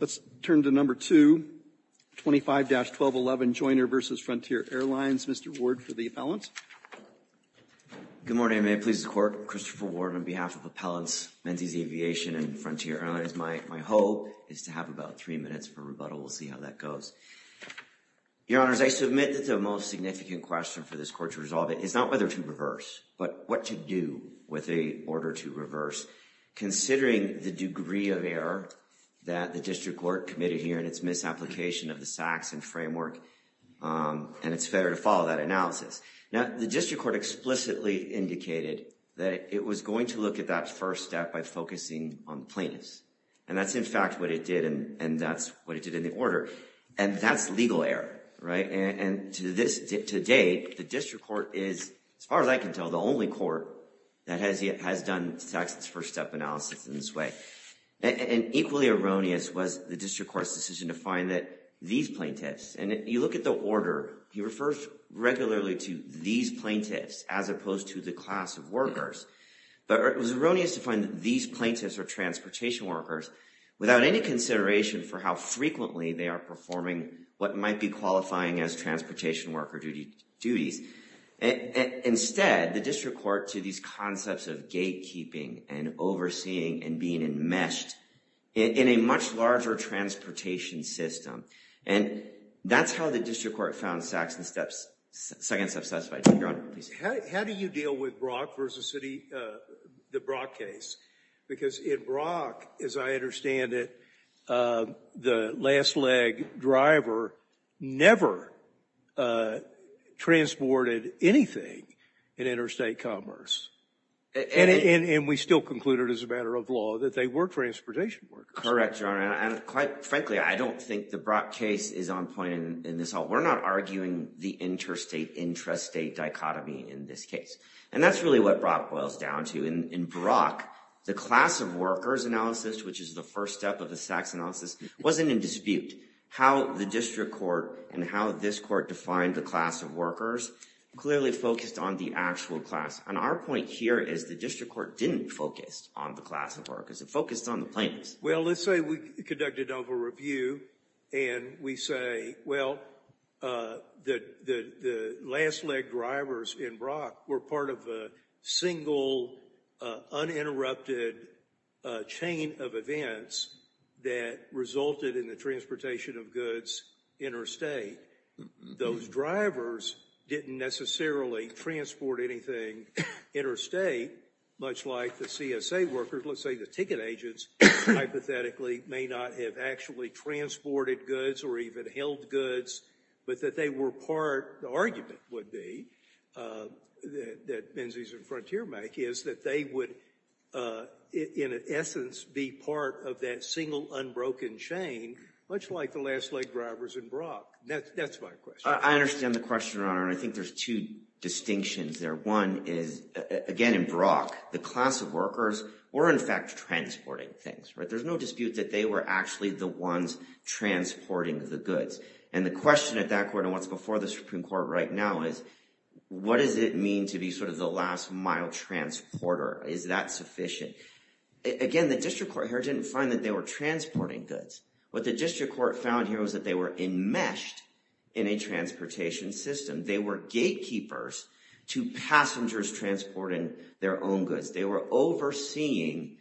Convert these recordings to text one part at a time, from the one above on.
Let's turn to No. 2, 25-1211 Joyner v. Frontier Airlines. Mr. Ward for the appellant. Good morning, and may it please the Court. Christopher Ward on behalf of Appellants, Menzies Aviation and Frontier Airlines. My hope is to have about three minutes for rebuttal. We'll see how that goes. Your Honors, I submit that the most significant question for this Court to resolve it is not whether to reverse, but what to do with the order to reverse, considering the degree of error that the District Court committed here in its misapplication of the Saxon framework, and it's fair to follow that analysis. Now, the District Court explicitly indicated that it was going to look at that first step by focusing on the plaintiffs, and that's in fact what it did, and that's what it did in the order, and that's legal error, right? And to date, the District Court is, as far as I can tell, the only court that has done Saxon's first step analysis in this way, and equally erroneous was the District Court's decision to find that these plaintiffs, and you look at the order, he refers regularly to these plaintiffs as opposed to the class of workers, but it was erroneous to find that these plaintiffs are transportation workers without any consideration for how frequently they are performing what might be qualifying as transportation worker duties. Instead, the District Court to these concepts of gatekeeping and overseeing and being enmeshed in a much larger transportation system, and that's how the District Court found Saxon's second step satisfied. Your Honor, please. How do you deal with Brock versus the Brock case? Because in Brock, as I understand it, the last leg driver never transported anything in interstate commerce, and we still concluded as a matter of law that they were transportation workers. Correct, Your Honor, and quite frankly, I don't think the Brock case is on point in this. We're not arguing the interstate-intrastate dichotomy in this case, and that's really what Brock boils down to. In Brock, the class of workers analysis, which is the first step of the Saxon analysis, wasn't in dispute. How the District Court and how this court defined the class of workers clearly focused on the actual class, and our point here is the District Court didn't focus on the class of workers. It focused on the plaintiffs. Well, let's say we conducted a review, and we say, well, the last leg drivers in Brock were part of a single, uninterrupted chain of events that resulted in the transportation of goods interstate. Those drivers didn't necessarily transport anything interstate, much like the CSA workers. Let's say the ticket agents hypothetically may not have actually transported goods or even held goods, but that they were part, the argument would be, that Menzies and Frontier make is that they would, in essence, be part of that single, unbroken chain, much like the last leg drivers in Brock. That's my question. I understand the question, Your Honor, and I think there's two distinctions there. One is, again, in Brock, the class of workers were, in fact, transporting things. There's no dispute that they were actually the ones transporting the goods, and the question at that court and what's before the Supreme Court right now is, what does it mean to be sort of the last mile transporter? Is that sufficient? Again, the District Court here didn't find that they were transporting goods. What the District Court found here was that they were enmeshed in a transportation system. They were gatekeepers to passengers transporting their own goods. They were overseeing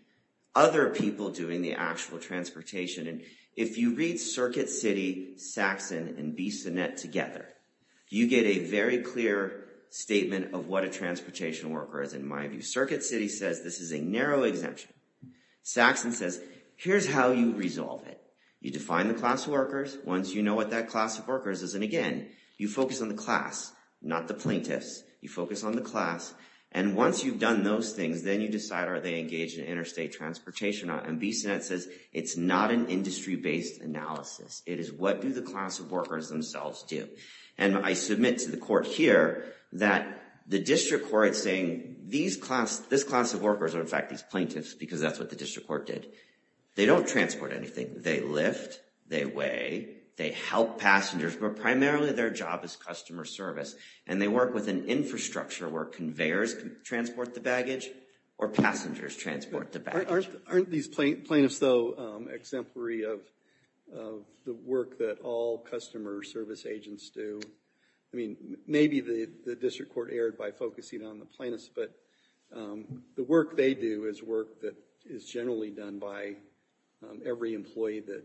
other people doing the actual transportation, and if you read Circuit City, Saxon, and Bissonnette together, you get a very clear statement of what a transportation worker is in my view. Circuit City says this is a narrow exemption. Saxon says, here's how you resolve it. You define the class of workers. Once you know what that class of workers is, and again, you focus on the class, not the plaintiffs. You focus on the class, and once you've done those things, then you decide are they engaged in interstate transportation or not, and Bissonnette says it's not an industry-based analysis. It is what do the class of workers themselves do, and I submit to the court here that the District Court saying this class of workers are, in fact, these plaintiffs because that's what the District Court did. They don't transport anything. They lift. They weigh. They help passengers, but primarily their job is customer service, and they work with an infrastructure where conveyors can transport the baggage or passengers transport the baggage. Aren't these plaintiffs, though, exemplary of the work that all customer service agents do? I mean, maybe the District Court erred by focusing on the plaintiffs, but the work they do is work that is generally done by every employee that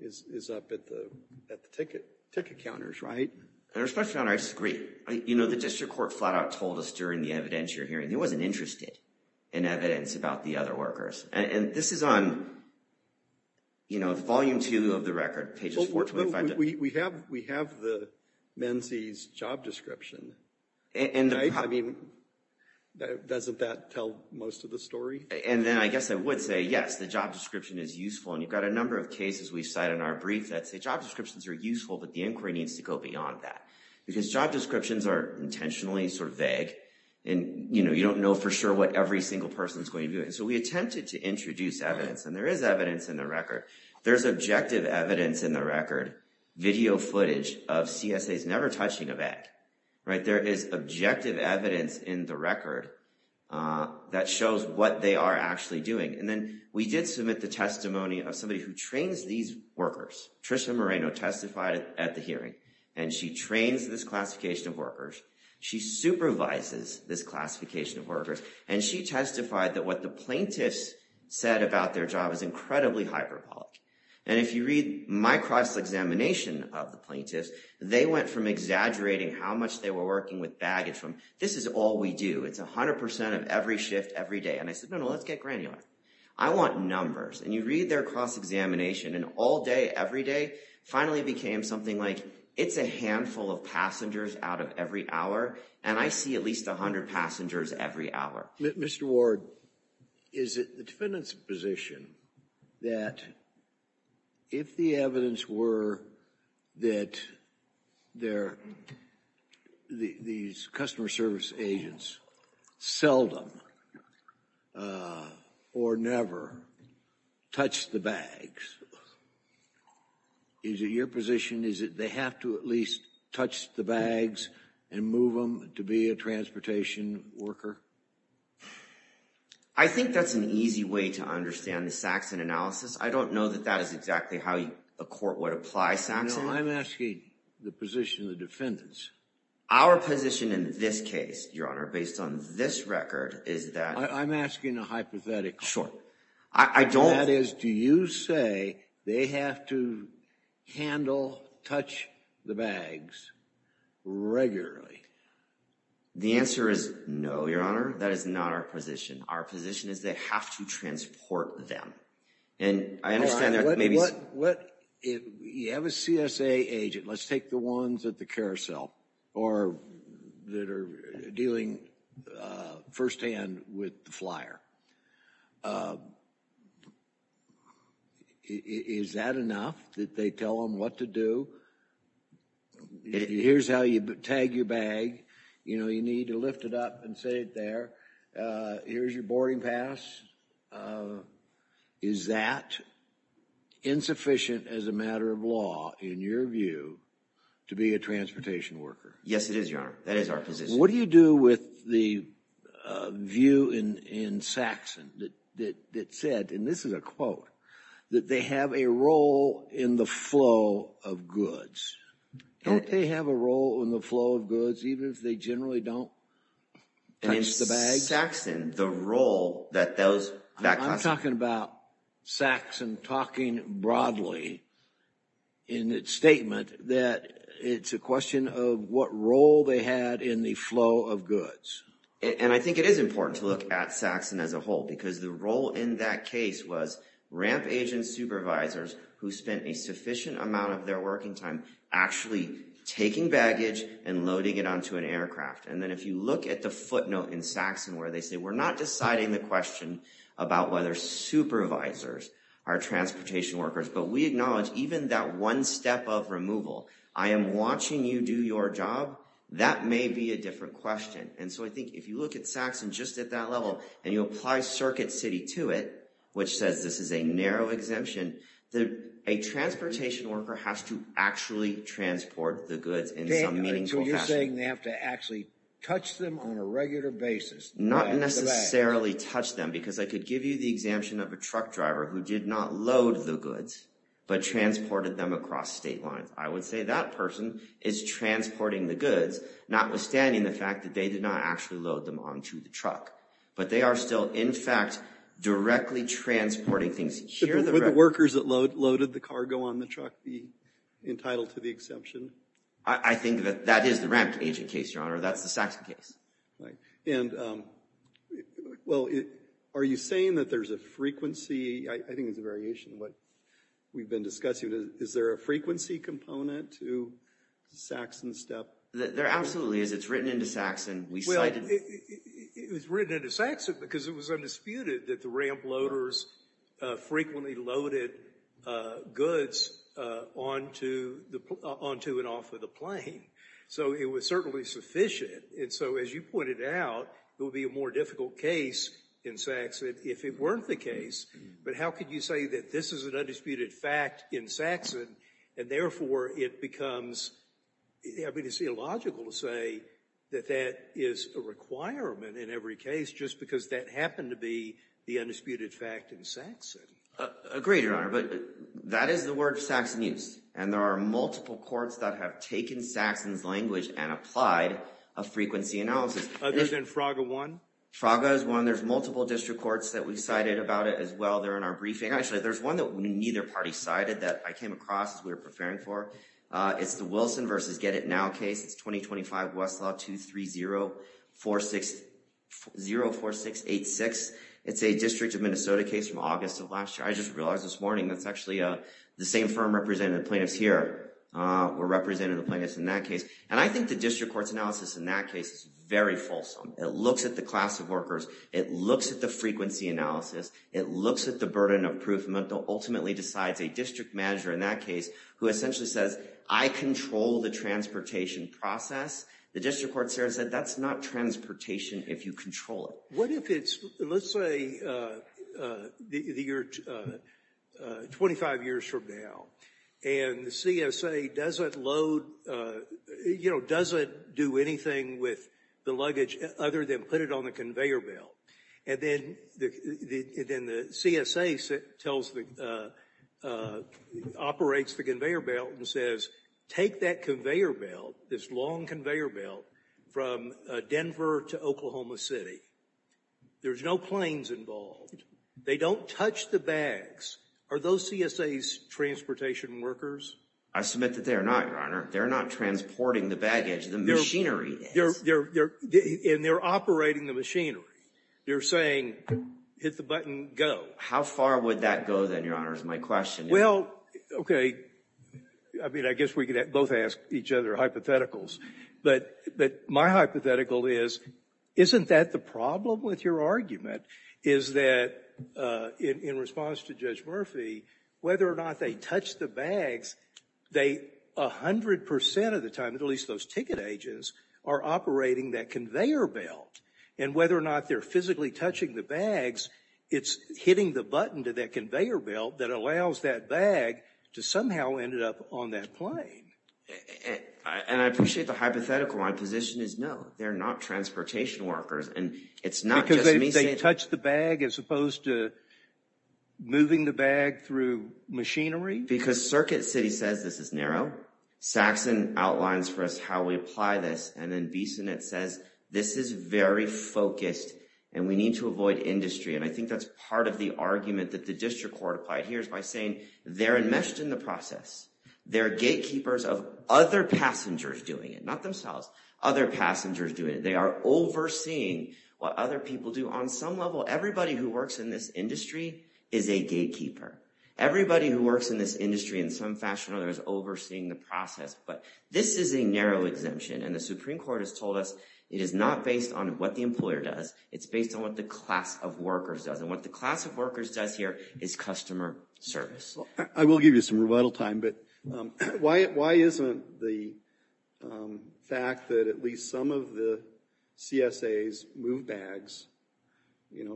is up at the ticket counters, right? In respect, Your Honor, I disagree. You know, the District Court flat-out told us during the evidence you're hearing it wasn't interested in evidence about the other workers, and this is on, you know, volume two of the record, pages 425. We have the Menzies' job description, right? I mean, doesn't that tell most of the story? And then I guess I would say, yes, the job description is useful, and you've got a number of cases we cite in our brief that say job descriptions are useful, but the inquiry needs to go beyond that because job descriptions are intentionally sort of vague, and, you know, you don't know for sure what every single person is going to do, and so we attempted to introduce evidence, and there is evidence in the record. There's objective evidence in the record, video footage of CSAs never touching a bag, right? There is objective evidence in the record that shows what they are actually doing, and then we did submit the testimony of somebody who trains these workers. Tricia Moreno testified at the hearing, and she trains this classification of workers. She supervises this classification of workers, and she testified that what the plaintiffs said about their job is incredibly hyperbolic, and if you read my cross-examination of the plaintiffs, they went from exaggerating how much they were working with baggage from, this is all we do, it's 100 percent of every shift every day, and I said, no, no, let's get granular. I want numbers, and you read their cross-examination, and all day, every day, finally became something like, it's a handful of passengers out of every hour, and I see at least 100 passengers every hour. Mr. Ward, is it the defendant's position that if the evidence were that these customer service agents seldom or never touch the bags, is it your position is that they have to at least touch the bags and move them to be a transportation worker? I think that's an easy way to understand the Saxon analysis. I don't know that that is exactly how a court would apply Saxon. No, I'm asking the position of the defendants. Our position in this case, your honor, based on this record, is that... I'm asking a hypothetical. Sure. I don't... That is, do you say they have to handle, touch the bags regularly? The answer is no, your honor. That is not our position. Our position is they have to transport them, and I understand that maybe... You have a CSA agent. Let's take the ones at the carousel or that are dealing firsthand with the flyer. Is that enough that they tell them what to do? Here's how you tag your bag. You know, you need to lift it up and sit it there. Here's your boarding pass. Is that insufficient as a matter of law, in your view, to be a transportation worker? Yes, it is, your honor. That is our position. What do you do with the view in Saxon that said, and this is a quote, that they have a role in the flow of goods? Don't they have a role in the flow of goods, even if they generally don't touch the bags? In Saxon, the role that those... I'm talking about Saxon talking broadly in its statement that it's a question of what role they had in the flow of goods. And I think it is important to look at Saxon as a whole because the role in that case was ramp agent supervisors who spent a sufficient amount of their working time actually taking baggage and loading it onto an aircraft. And then if you look at the footnote in Saxon where they say, we're not deciding the question about whether supervisors are transportation workers, but we acknowledge even that one step of removal. I am watching you do your job. That may be a different question. And so I think if you look at Saxon just at that level and you apply circuit city to it, which says this is a narrow exemption, a transportation worker has to actually transport the goods in some meaningful fashion. So you're saying they have to actually touch them on a regular basis? Not necessarily touch them because I could give you the exemption of a truck driver who did not load the goods, but transported them across state lines. I would say that person is transporting the goods, notwithstanding the fact that they did not actually load them onto the truck. But they are still, in fact, directly transporting things. Would the workers that loaded the cargo on the truck be entitled to the exemption? I think that that is the ramp agent case, Your Honor. That's the Saxon case. Right. And well, are you saying that there's a frequency? I think it's a variation of what we've been discussing. Is there a frequency component to the Saxon step? There absolutely is. It's written into Saxon. Well, it was written into Saxon because it was undisputed that the ramp loaders frequently loaded goods onto and off of the plane. So it was certainly sufficient. And so, as you pointed out, it would be a more difficult case in Saxon if it weren't the case. But how could you say that this is an undisputed fact in Saxon and therefore it becomes, I mean, it's illogical to say that that is a requirement in every case just because that happened to be the undisputed fact in Saxon? Agreed, Your Honor. But that is the word Saxon used. And there are multiple courts that have taken Saxon's language and applied a frequency analysis. Other than Fraga 1? Fraga is one. There's multiple district courts that we've cited about it as well. They're in our briefing. Actually, there's one that neither party cited that I came across as we were preparing for. It's the Wilson v. Get It Now case. It's 2025 Westlaw 230-4686. It's a District of Minnesota case from August of last year. I just realized this morning that's actually the same firm representing the plaintiffs here. We're representing the plaintiffs in that case. And I think the district court's analysis in that case is very fulsome. It looks at the class of It looks at the frequency analysis. It looks at the burden of proof. It ultimately decides a district manager in that case who essentially says, I control the transportation process. The district court, Sarah, said that's not transportation if you control it. What if it's, let's say, the year, 25 years from now, and the CSA doesn't load, you know, do anything with the luggage other than put it on the conveyor belt? And then the CSA operates the conveyor belt and says, take that conveyor belt, this long conveyor belt, from Denver to Oklahoma City. There's no planes involved. They don't touch the bags. Are those CSA's transportation workers? I submit that they are not, Your Honor. They're not transporting the baggage. The machinery is. They're operating the machinery. They're saying, hit the button, go. How far would that go, then, Your Honor, is my question. Well, okay. I mean, I guess we could both ask each other hypotheticals. But my hypothetical is, isn't that the problem with your argument, is that in response to Judge Murphy, whether or not they touch the bags, they, 100% of the time, at least those ticket agents, are operating that conveyor belt. And whether or not they're physically touching the bags, it's hitting the button to that conveyor belt that allows that bag to somehow end up on that plane. And I appreciate the hypothetical. My position is, no, they're not transportation workers. And it's not just me saying. They touch the bag as opposed to moving the bag through machinery? Because Circuit City says this is narrow. Saxon outlines for us how we apply this. And then Beeson, it says, this is very focused, and we need to avoid industry. And I think that's part of the argument that the District Court applied here is by saying, they're enmeshed in the process. They're gatekeepers of other passengers doing it, not themselves. Other passengers doing it. They are overseeing what other people do. On some level, everybody who works in this industry is a gatekeeper. Everybody who works in this industry, in some fashion or other, is overseeing the process. But this is a narrow exemption. And the Supreme Court has told us it is not based on what the employer does. It's based on what the class of workers does. And what the class of workers does here is customer service. I will give you some rebuttal time. But why isn't the fact that at least some of the CSAs move bags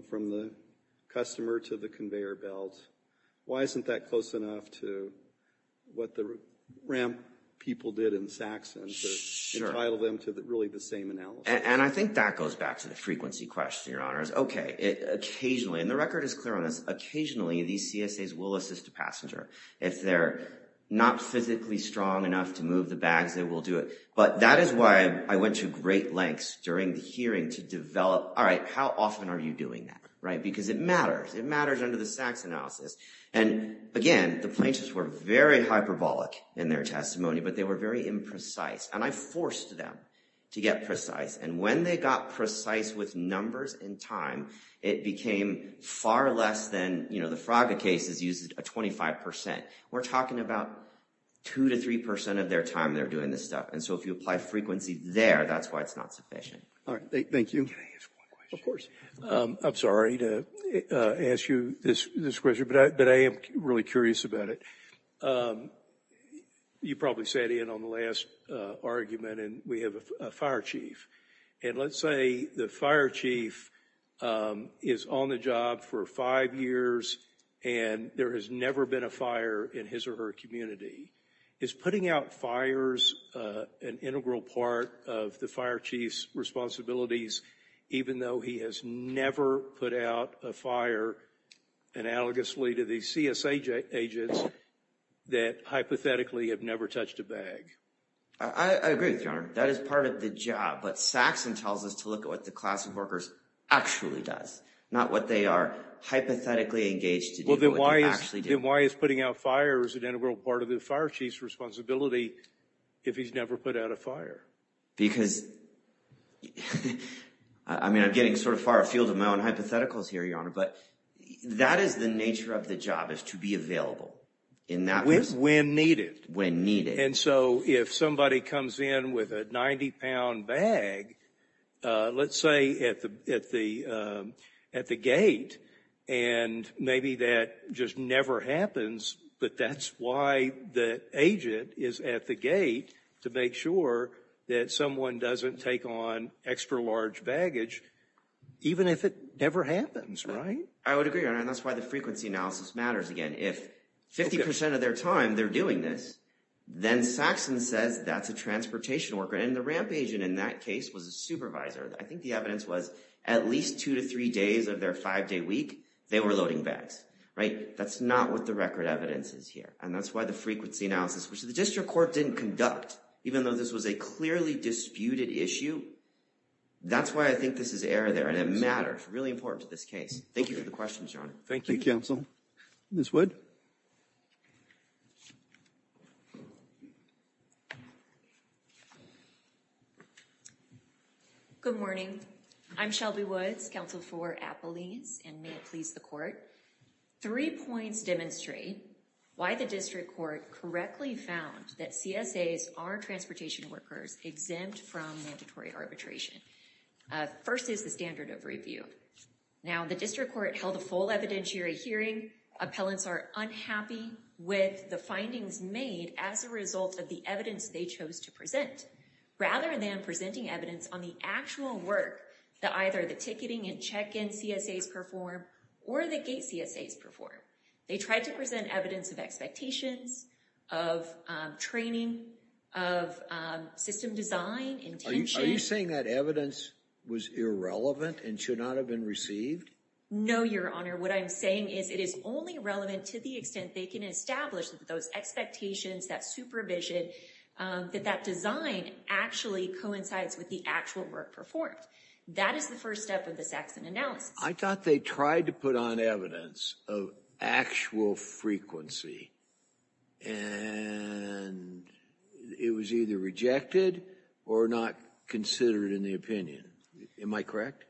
from the customer to the conveyor belt, why isn't that close enough to what the ramp people did in Saxon to entitle them to really the same analysis? And I think that goes back to the frequency question, Your Honors. OK. Occasionally. And the record is clear on this. Occasionally, these CSAs will assist a passenger. If they're not physically strong enough to move the bags, they will do it. But that is why I went to great lengths during the hearing to develop, all right, how often are you doing that? Right? Because it matters. It matters under the Saxon analysis. And again, the plaintiffs were very hyperbolic in their testimony. But they were very imprecise. And I forced them to get precise. And when they got precise with numbers and time, it became far less than, you know, the Fraga cases used a 25%. We're talking about 2% to 3% of their time they're doing this stuff. And so if you apply frequency there, that's why it's not sufficient. All right. Thank you. Of course. I'm sorry to ask you this question, but I am really curious about it. You probably sat in on the last argument, and we have a fire chief. And let's say the fire chief is on the job for five years, and there has never been a fire in his or her community. Is putting out fires an integral part of the fire chief's responsibilities, even though he has never put out a fire analogously to the CSA agents that hypothetically have never touched a bag? I agree with you, Your Honor. That is part of the job. But Saxon tells us to look at what the class of workers actually does, not what they are hypothetically engaged to do, but what they actually do. Then why is putting out fires an integral part of the fire chief's responsibility if he's never put out a fire? Because, I mean, I'm getting sort of far afield of my own hypotheticals here, Your Honor. But that is the nature of the job, is to be available in that way. When needed. When needed. And so if somebody comes in with a 90-pound bag, let's say at the gate, and maybe that just never happens, but that's why the agent is at the gate to make sure that someone doesn't take on extra large baggage, even if it never happens, right? I would agree, Your Honor. And that's why the frequency analysis matters again. If 50 percent of their time they're doing this, then Saxon says that's a transportation worker. And the ramp agent in that case was a supervisor. I think the evidence was at least two to three days of their five-day week, they were loading bags, right? That's not what the record evidence is here. And that's why the frequency analysis, which the district court didn't conduct, even though this was a clearly disputed issue, that's why I think this is error there. And it matters. Really important to this case. Thank you for the questions, Your Honor. Thank you, counsel. Ms. Wood? Good morning. I'm Shelby Woods, counsel for Appalese, and may it please the court. Three points demonstrate why the district court correctly found that CSAs are transportation workers exempt from mandatory arbitration. First is the standard of review. Now, the district court held a full evidentiary hearing. Appellants are unhappy with the findings made as a result of the evidence they chose to Rather than presenting evidence on the actual work that either the ticketing and check-in CSAs perform or the gate CSAs perform, they tried to present evidence of expectations, of training, of system design, intention. Are you saying that evidence was irrelevant and should not have been received? No, Your Honor. What I'm saying is it is only relevant to the extent they can establish that those expectations, that supervision, that that design actually coincides with the actual work performed. That is the first step of the Saxon analysis. I thought they tried to put on evidence of actual frequency, and it was either rejected or not considered in the opinion. Am I correct?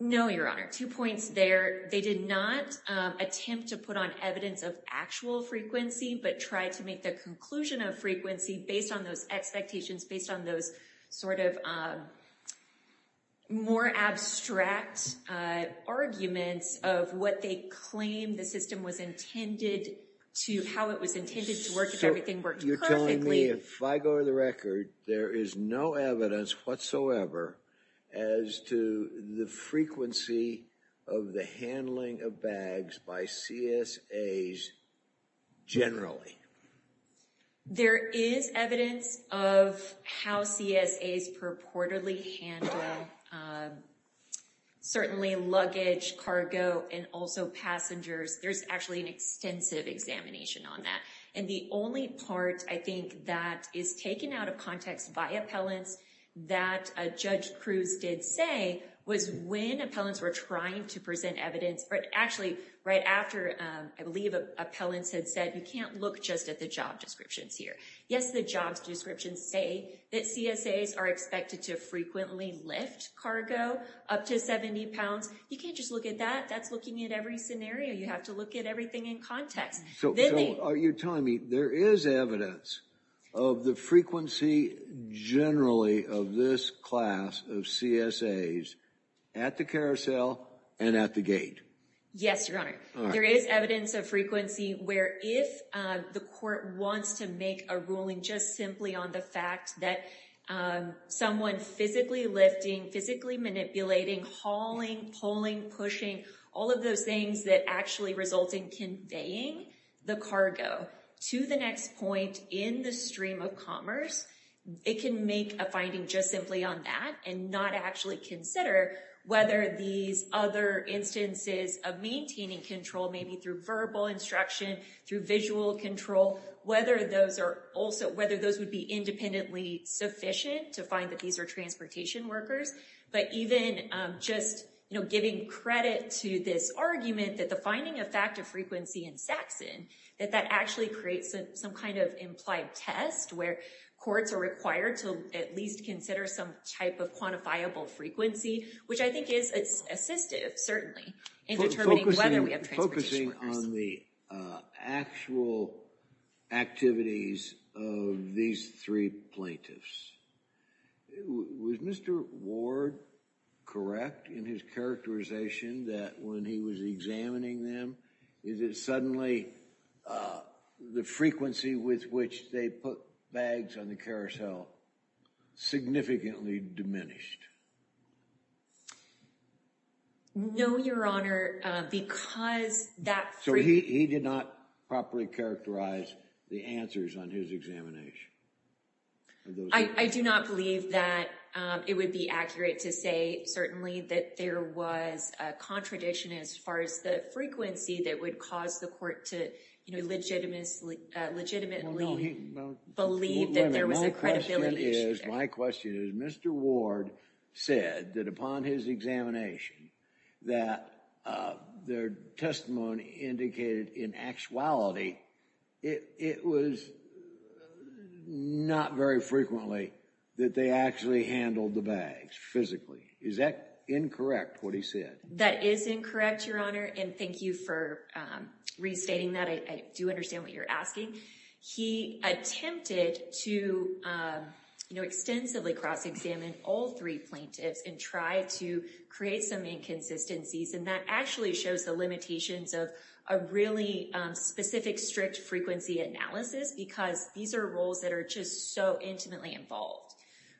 No, Your Honor. Two points there. They did not attempt to put on evidence of actual frequency, but tried to make the conclusion of frequency based on those expectations, based on those sort of more abstract arguments of what they claim the system was intended to, how it was intended to work, if everything worked perfectly. So you're telling me if I go to the record, there is no evidence whatsoever as to the frequency of the handling of bags by CSAs generally? There is evidence of how CSAs purportedly handle certainly luggage, cargo, and also passengers. There's actually an extensive examination on that. And the only part I think that is taken out of context by appellants that Judge Cruz did say was when appellants were trying to present evidence, actually right after, I believe, appellants had said, you can't look just at the job descriptions here. Yes, the job descriptions say that CSAs are expected to frequently lift cargo up to 70 pounds. You can't just look at that. That's looking at every scenario. You have to look at everything in context. So are you telling me there is evidence of the frequency generally of this class of CSAs at the carousel and at the gate? Yes, Your Honor. There is evidence of frequency where if the court wants to make a ruling just simply on the fact that someone physically lifting, physically manipulating, hauling, pulling, pushing, all of those things that actually result in conveying the cargo to the next point in the stream of commerce, it can make a finding just simply on that and not actually consider whether these other instances of maintaining control, maybe through verbal instruction, through visual control, whether those would be independently sufficient to find that these are transportation workers. But even just giving credit to this argument that the finding of fact of frequency in Saxon, that that actually creates some kind of implied test where courts are required to at least consider some type of quantifiable frequency, which I think is assistive certainly in determining whether we have transportation workers. Focusing on the actual activities of these three plaintiffs, was Mr. Ward correct in his characterization that when he was examining them, is it suddenly the frequency with which they put bags on the carousel significantly diminished? No, Your Honor, because that... So he did not properly characterize the answers on his examination? I do not believe that it would be accurate to say certainly that there was a contradiction as far as the frequency that would cause the court to legitimately believe that there was a credibility issue there. My question is, Mr. Ward said that upon his examination that their testimony indicated in actuality it was not very frequently that they actually handled the bags physically. Is that incorrect, what he said? That is incorrect, Your Honor, and thank you for restating that. I do understand what you're asking. He attempted to extensively cross-examine all three plaintiffs and try to create some inconsistencies and that actually shows the limitations of a really specific strict frequency analysis because these are roles that are just so intimately involved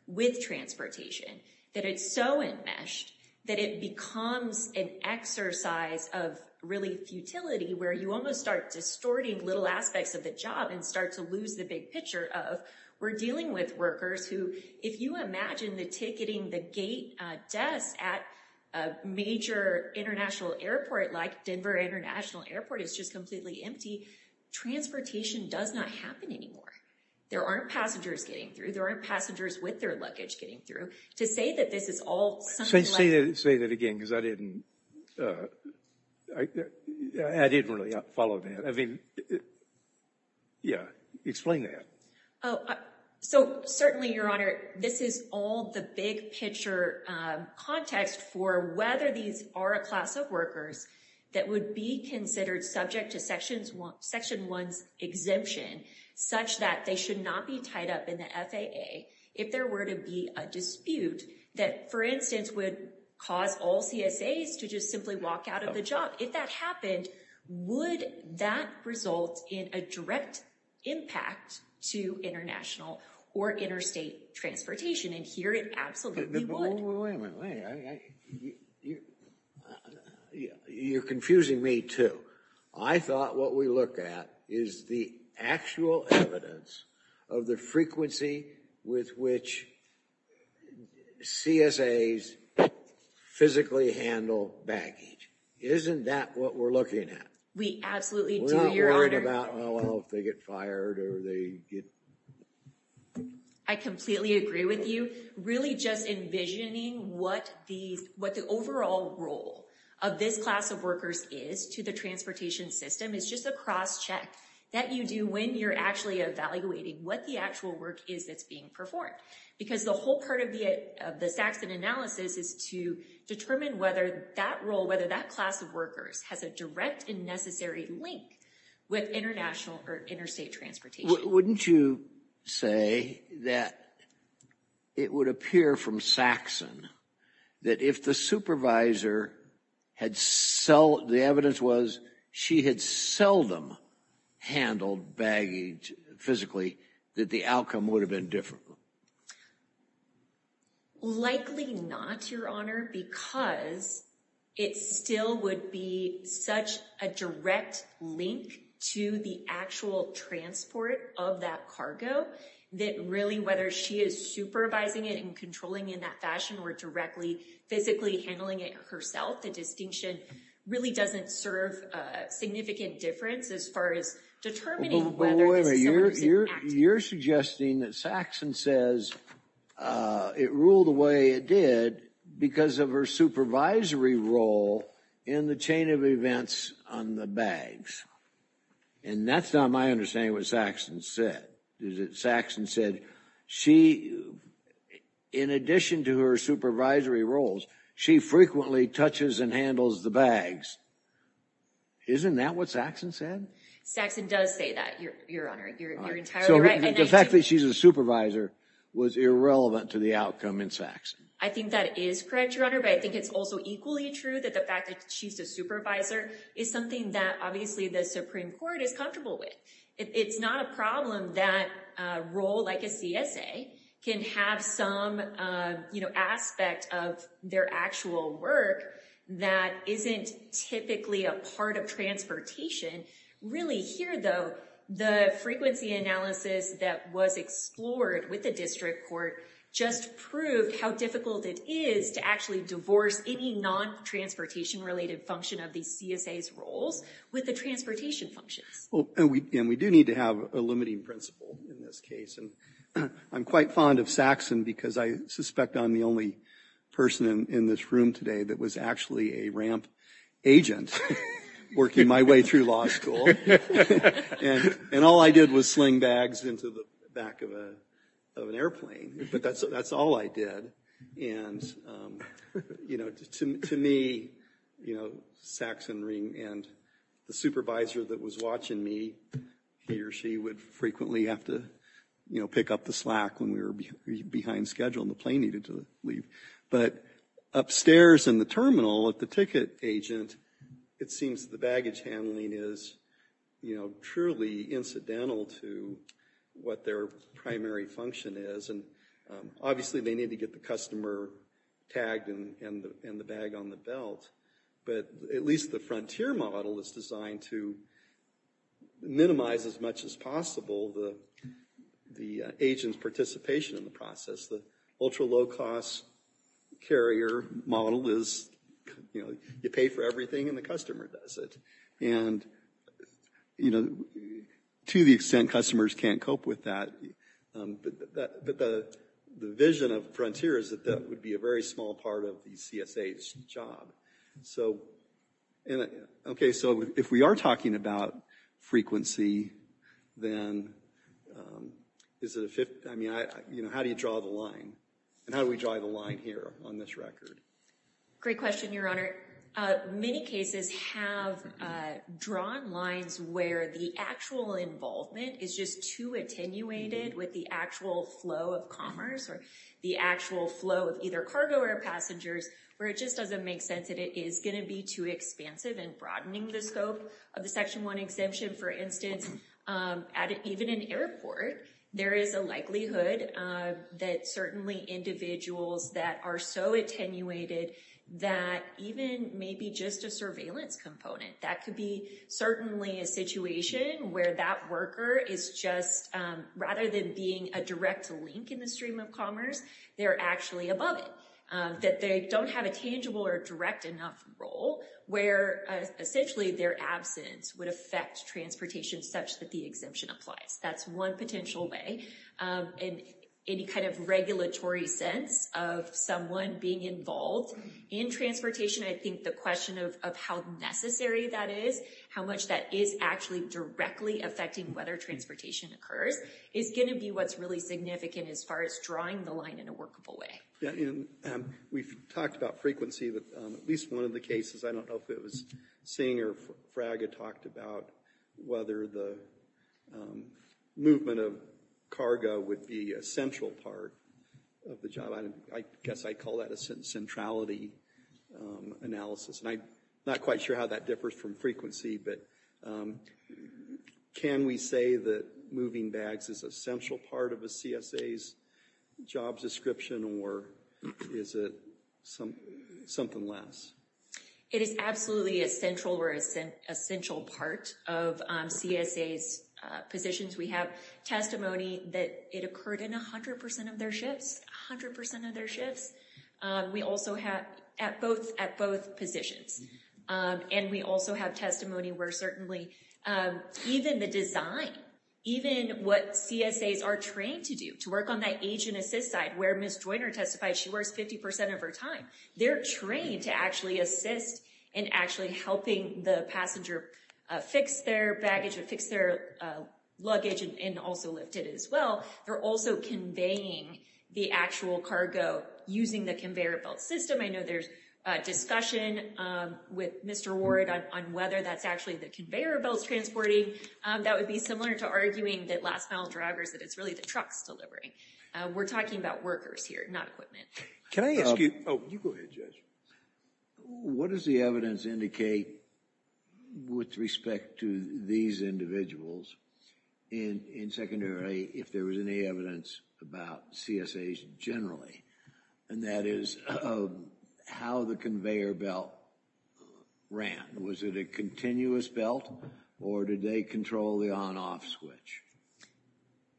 with transportation that it's so enmeshed that it becomes an exercise of really futility where you almost start distorting little aspects of the job and start to lose the big picture of we're dealing with workers who, if you imagine the ticketing the gate desks at a major international airport like Denver International Airport is just completely empty, transportation does not happen anymore. There aren't passengers getting through. There aren't passengers with their luggage getting through. To say that this is all something like... Say that again because I didn't really follow that. I mean, yeah, explain that. So certainly, Your Honor, this is all the big picture context for whether these are a class of workers that would be considered subject to Section 1's exemption such that they should not be tied up in the FAA if there were to be a dispute that, for instance, would cause all CSAs to just simply walk out of the job. If that happened, would that result in a direct impact to international or interstate transportation? And here, it absolutely would. Wait a minute. You're confusing me too. I thought what we look at is the actual evidence of the frequency with which CSAs physically handle baggage. Isn't that what we're looking at? We absolutely do, Your Honor. We're not worried about, well, if they get fired or they get... I completely agree with you. Really just envisioning what the overall role of this class of workers is to the transportation system is just a cross-check that you do when you're actually evaluating what the actual work is that's being performed. Because the whole part of the Saxton analysis is to determine whether that role, whether that class of workers has a direct and necessary link with international or interstate transportation. Wouldn't you say that it would appear from Saxton that if the supervisor had... The evidence was she had seldom handled baggage physically, that the outcome would have been different. Likely not, Your Honor, because it still would be such a direct link to the actual transport of that cargo that really whether she is supervising it and controlling in that fashion or directly physically handling it herself, the distinction really doesn't serve a significant difference as far as determining whether this is someone who's an actor. You're suggesting that Saxton says it ruled the way it did because of her supervisory role in the chain of events on the bags. And that's not my understanding of what Saxton said. Saxton said she, in addition to her supervisory roles, she frequently touches and handles the bags. Isn't that what Saxton said? Saxton does say that, Your Honor. You're entirely right. The fact that she's a supervisor was irrelevant to the outcome in Saxton. I think that is correct, Your Honor. But I think it's also equally true that the fact that she's a supervisor is something that obviously the Supreme Court is comfortable with. It's not a problem that a role like a CSA can have some aspect of their actual work that isn't typically a part of transportation. Really here, though, the frequency analysis that was explored with the district court just proved how difficult it is to actually divorce any non-transportation related function of the CSA's roles with the transportation functions. Well, and we do need to have a limiting principle in this case. And I'm quite fond of Saxton because I suspect I'm the only person in this room today that was actually a ramp agent working my way through law school. And all I did was sling bags into the back of an airplane. But that's all I did. And, you know, to me, you know, Saxton and the supervisor that was watching me, he or she would frequently have to, you know, pick up the slack when we were behind schedule and the plane needed to leave. But upstairs in the terminal at the ticket agent, it seems the baggage handling is, you know, truly incidental to what their primary function is. And obviously, they need to get the customer tagged and the bag on the belt. But at least the frontier model is designed to minimize as much as possible the agent's participation in the process. The ultra low cost carrier model is, you know, you pay for everything and the customer does it. And, you know, to the extent customers can't cope with that, but the vision of frontier is that that would be a very small part of the CSA's job. So, okay, so if we are talking about frequency, then is it a, I mean, you know, how do you draw the line and how do we draw the line here on this record? Great question, Your Honor. Many cases have drawn lines where the actual involvement is just too attenuated with the actual flow of commerce or the actual flow of either cargo or passengers, where it just doesn't make sense that it is going to be too expansive and broadening the scope of the Section 1 exemption. For instance, at even an airport, there is a likelihood that certainly individuals that are so attenuated that even maybe just a surveillance component, that could be certainly a situation where that worker is just rather than being a direct link in the stream of commerce, they're actually above it. That they don't have a tangible or direct enough role where essentially their absence would affect transportation such that the exemption applies. That's one potential way. And any kind of regulatory sense of someone being involved in transportation, I think the question of how necessary that is, how much that is actually directly affecting whether transportation occurs, is going to be what's really significant as far as drawing the line in a workable way. Yeah, and we've talked about frequency, but at least one of the cases, I don't know if it was Singh or Fraga, talked about whether the movement of cargo would be a central part of the job. I guess I call that a centrality analysis. And I'm not quite sure how that differs from frequency, but can we say that moving bags is a central part of a CSA's job description, or is it something less? It is absolutely a central or essential part of CSA's positions. We have testimony that it occurred in 100% of their shifts, 100% of their shifts. We also have at both positions. And we also have testimony where certainly even the design, even what CSAs are trained to do, to work on that agent assist side where Ms. Joyner testified she works 50% of her time, they're trained to actually assist in actually helping the passenger fix their baggage or fix their luggage and also lift it as well. They're also conveying the actual cargo using the conveyor belt system. I know there's a discussion with Mr. Ward on whether that's actually the conveyor belts transporting. That would be similar to arguing that last mile drivers, that it's really the trucks delivering. We're talking about workers here, not equipment. Can I ask you? Oh, you go ahead, Judge. What does the evidence indicate with respect to these individuals in secondary if there was any evidence about CSAs generally? And that is how the conveyor belt ran. Was it a continuous belt or did they control the on-off switch?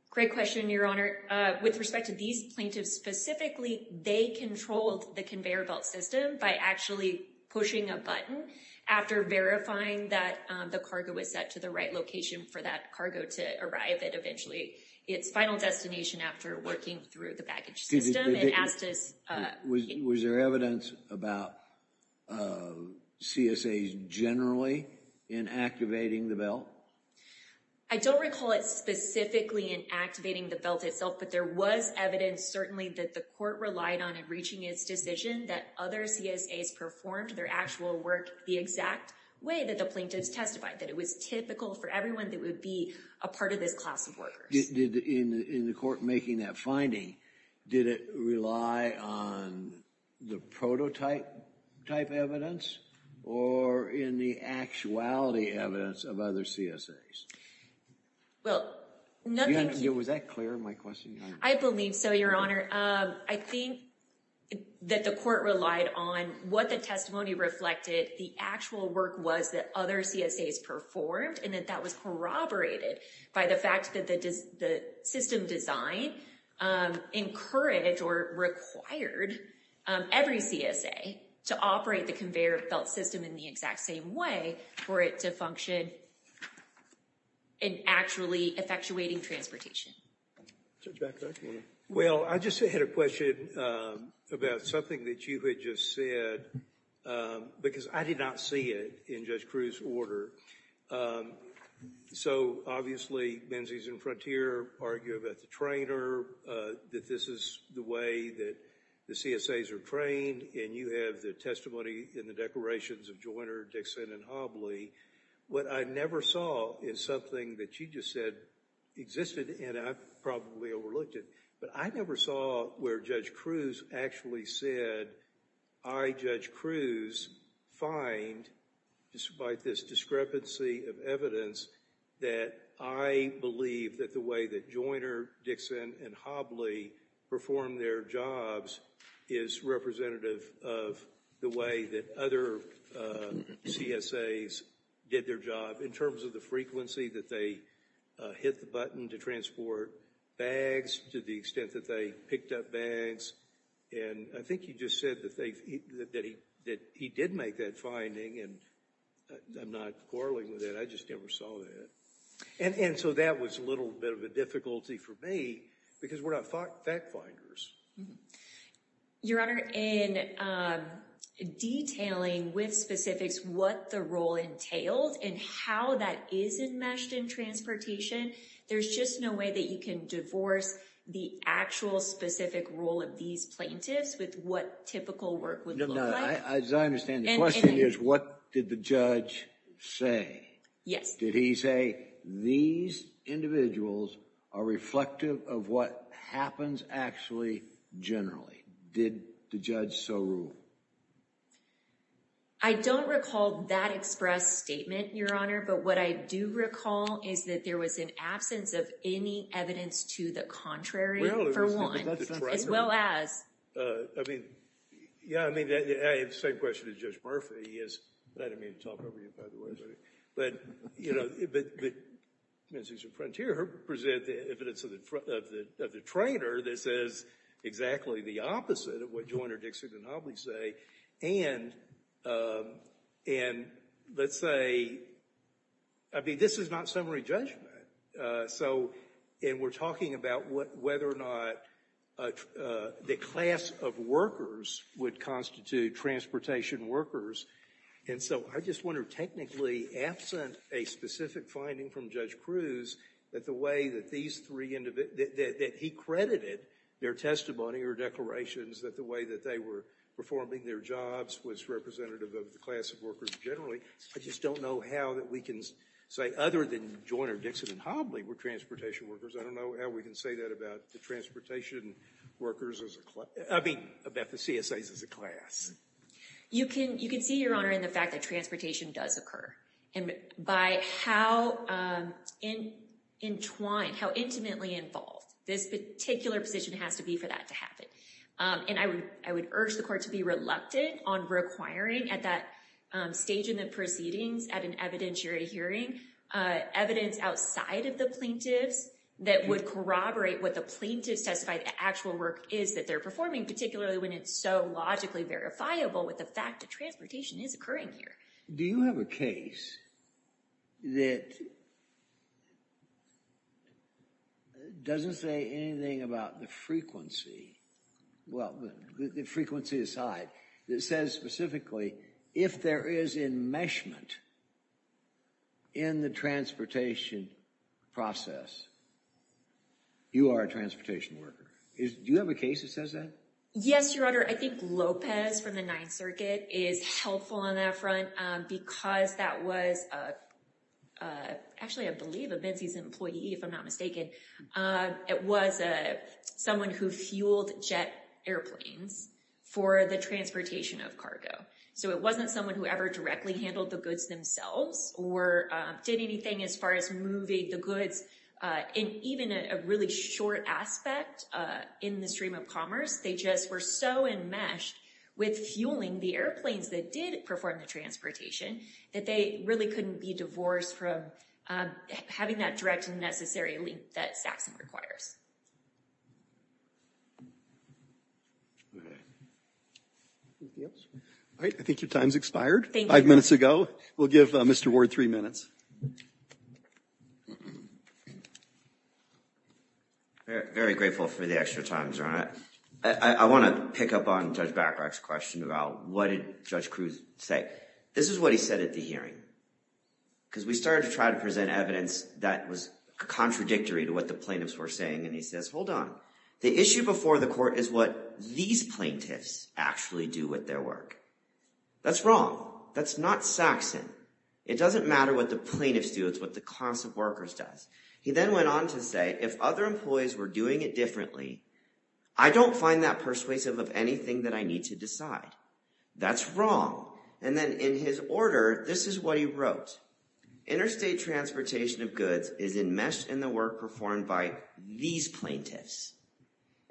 Great question, Your Honor. With respect to these plaintiffs specifically, they controlled the conveyor belt system by actually pushing a button after verifying that the cargo was set to the right location for that cargo to arrive at eventually its final destination after working through the baggage system and asked us- Was there evidence about CSAs generally in activating the belt? I don't recall it specifically in activating the belt itself, but there was evidence, certainly, that the court relied on in reaching its decision that other CSAs performed their actual work the exact way that the plaintiffs testified, that it was typical for everyone that would be a part of this class of workers. In the court making that finding, did it rely on the prototype type evidence or in the actuality evidence of other CSAs? Well, nothing- Was that clear, my question? I believe so, Your Honor. I think that the court relied on what the testimony reflected, the actual work was that other CSAs performed, and that that was corroborated by the fact that the system design encouraged or required every CSA to operate the conveyor belt system in the exact same way for it to function in actually effectuating transportation. Judge Bacow, if you want to- Well, I just had a question about something that you had just said, because I did not see it in Judge Crew's order. So, obviously, Menzies and Frontier argue about the trainer, that this is the way that the CSAs are trained, and you have the testimony in the declarations of Joyner, Dixon, and Hobley. What I never saw is something that you just said existed, and I probably overlooked it, but I never saw where Judge Crews actually said, I, Judge Crews, find, despite this discrepancy of evidence, that I believe that the way that Joyner, Dixon, and Hobley perform their jobs is representative of the way that other CSAs did their job in terms of the frequency that they hit the button to transport bags to the extent that they picked up bags, and I think you just said that he did make that finding, and I'm not quarreling with that. I just never saw that, and so that was a little bit of a difficulty for me, because we're not fact finders. Mm-hmm. Your Honor, in detailing with specifics what the role entailed and how that is enmeshed in transportation, there's just no way that you can divorce the actual specific role of these plaintiffs with what typical work would look like. No, no, I understand. The question is, what did the judge say? Yes. Did he say, these individuals are reflective of what happens actually generally? Did the judge so rule? I don't recall that expressed statement, Your Honor, but what I do recall is that there was an absence of any evidence to the contrary, for one, as well as- I mean, yeah, I mean, I have the same question as Judge Murphy. But I didn't mean to talk over you, by the way. But, you know, Menzies and Frontier present the evidence of the traitor that says exactly the opposite of what Joyner, Dixon, and Hobley say, and let's say, I mean, this is not summary judgment. And we're talking about whether or not the class of workers would constitute transportation workers. And so I just wonder, technically absent a specific finding from Judge Cruz that the way that these three- that he credited their testimony or declarations that the way that they were performing their jobs was representative of the class of workers generally, I just don't know how that we can say other than Joyner, Dixon, and Hobley were transportation workers. I don't know how we can say that about the transportation workers as a- I mean, about the CSAs as a class. You can see, Your Honor, in the fact that transportation does occur. And by how entwined, how intimately involved, this particular position has to be for that to happen. And I would urge the court to be reluctant on requiring at that stage in the proceedings at an evidentiary hearing evidence outside of the plaintiffs that would corroborate what the plaintiffs testified the actual work is that they're performing, particularly when it's so logically verifiable with the fact that transportation is occurring here. Do you have a case that doesn't say anything about the frequency? Well, the frequency aside, that says specifically if there is enmeshment in the transportation process, you are a transportation worker. Do you have a case that says that? Yes, Your Honor. I think Lopez from the Ninth Circuit is helpful on that front because that was actually, I believe, a Benzies employee, if I'm not mistaken. It was someone who fueled jet airplanes for the transportation of cargo. So it wasn't someone who ever directly handled the goods themselves or did anything as far as moving the goods in even a really short aspect in the stream of commerce. They just were so enmeshed with fueling the airplanes that did perform the transportation that they really couldn't be divorced from having that direct and necessary link that Saxon requires. All right. I think your time's expired. Thank you. Five minutes ago. We'll give Mr. Ward three minutes. Very grateful for the extra time, Your Honor. I want to pick up on Judge Bacharach's question about what did Judge Cruz say? This is what he said at the hearing because we started to try to present evidence that was contradictory to what the plaintiffs were saying. And he says, hold on. The issue before the court is what these plaintiffs actually do with their work. That's wrong. That's not Saxon. It doesn't matter what the plaintiffs do. It's what the class of workers does. He then went on to say, if other employees were doing it differently, I don't find that persuasive of anything that I need to decide. That's wrong. And then in his order, this is what he wrote. Interstate transportation of goods is enmeshed in the work performed by these plaintiffs,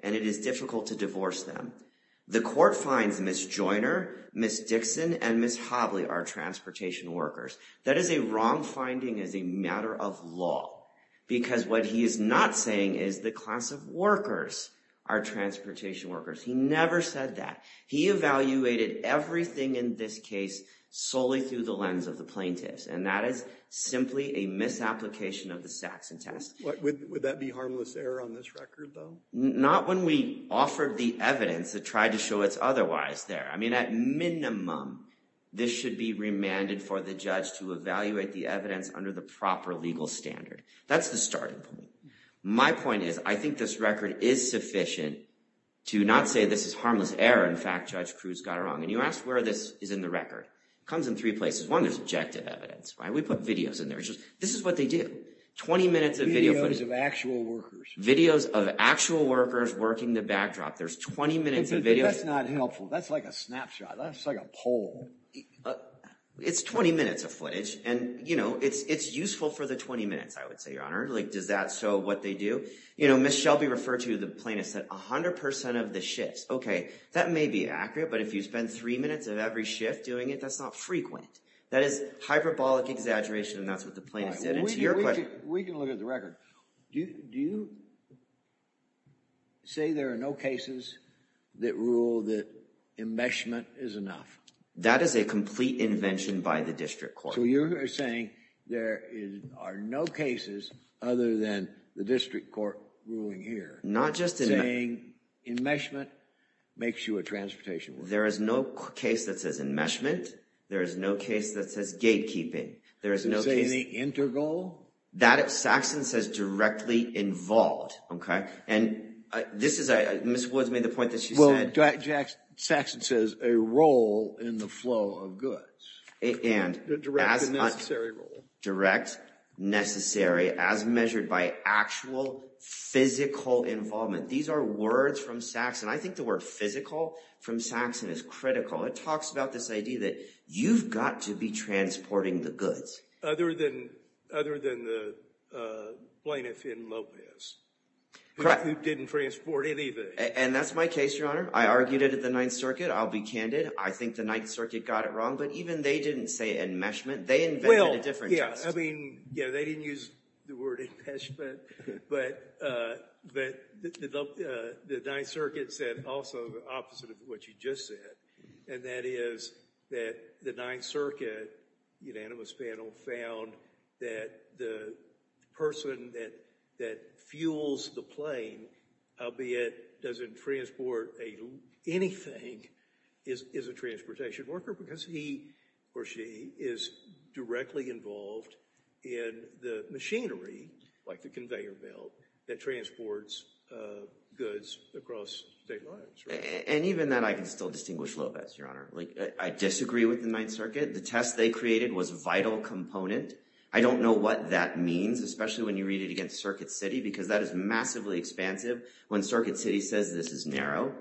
and it is difficult to divorce them. The court finds Ms. Joyner, Ms. Dixon, and Ms. Hobley are transportation workers. That is a wrong finding as a matter of law because what he is not saying is the class of workers are transportation workers. He never said that. He evaluated everything in this case solely through the lens of the plaintiffs, and that is simply a misapplication of the Saxon test. Would that be harmless error on this record, though? Not when we offered the evidence to try to show it's otherwise there. I mean, at minimum, this should be remanded for the judge to evaluate the evidence under the proper legal standard. That's the starting point. My point is, I think this record is sufficient to not say this is harmless error. In fact, Judge Cruz got it wrong. And you asked where this is in the record. It comes in three places. One is objective evidence. We put videos in there. This is what they do. 20 minutes of video footage. Videos of actual workers. Videos of actual workers working the backdrop. There's 20 minutes of video. That's not helpful. That's like a snapshot. That's like a poll. It's 20 minutes of footage, and it's useful for the 20 minutes, I would say, Your Honor. Like, does that show what they do? You know, Ms. Shelby referred to, the plaintiff said, 100% of the shifts. Okay, that may be accurate, but if you spend three minutes of every shift doing it, that's not frequent. That is hyperbolic exaggeration, and that's what the plaintiff said. And to your question— We can look at the record. Do you say there are no cases that rule that embezzlement is enough? That is a complete invention by the district court. So you're saying there are no cases other than the district court ruling here. Not just em— Saying embezzlement makes you a transportation worker. There is no case that says embezzlement. There is no case that says gatekeeping. There is no case— Does it say any integral? That, Saxon says, directly involved. And this is, Ms. Woods made the point that she said— Well, Saxon says a role in the flow of goods. A direct and necessary role. Direct, necessary, as measured by actual physical involvement. These are words from Saxon. I think the word physical from Saxon is critical. It talks about this idea that you've got to be transporting the goods. Other than the plaintiff in Lopez, who didn't transport anything. And that's my case, Your Honor. I argued it at the Ninth Circuit. I'll be candid. I think the Ninth Circuit got it wrong. But even they didn't say embezzlement. They invented a different text. Well, yeah. I mean, yeah, they didn't use the word embezzlement. But the Ninth Circuit said also the opposite of what you just said. And that is that the Ninth Circuit unanimous panel found that the person that fuels the plane, albeit doesn't transport anything, is a transportation worker. Because he or she is directly involved in the machinery, like the conveyor belt, that transports goods across state lines. And even then, I can still distinguish Lopez, Your Honor. I disagree with the Ninth Circuit. The test they created was a vital component. I don't know what that means, especially when you read it against Circuit City. Because that is massively expansive when Circuit City says this is narrow.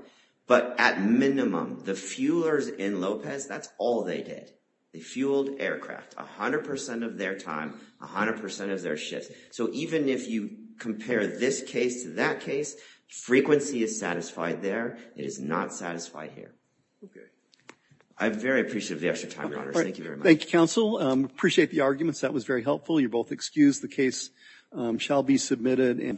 But at minimum, the fuelers in Lopez, that's all they did. They fueled aircraft 100% of their time, 100% of their shifts. So even if you compare this case to that case, frequency is satisfied there. It is not satisfied here. Okay. I'm very appreciative of the extra time, Your Honor. Thank you very much. Thank you, counsel. Appreciate the arguments. That was very helpful. You're both excused. The case shall be submitted.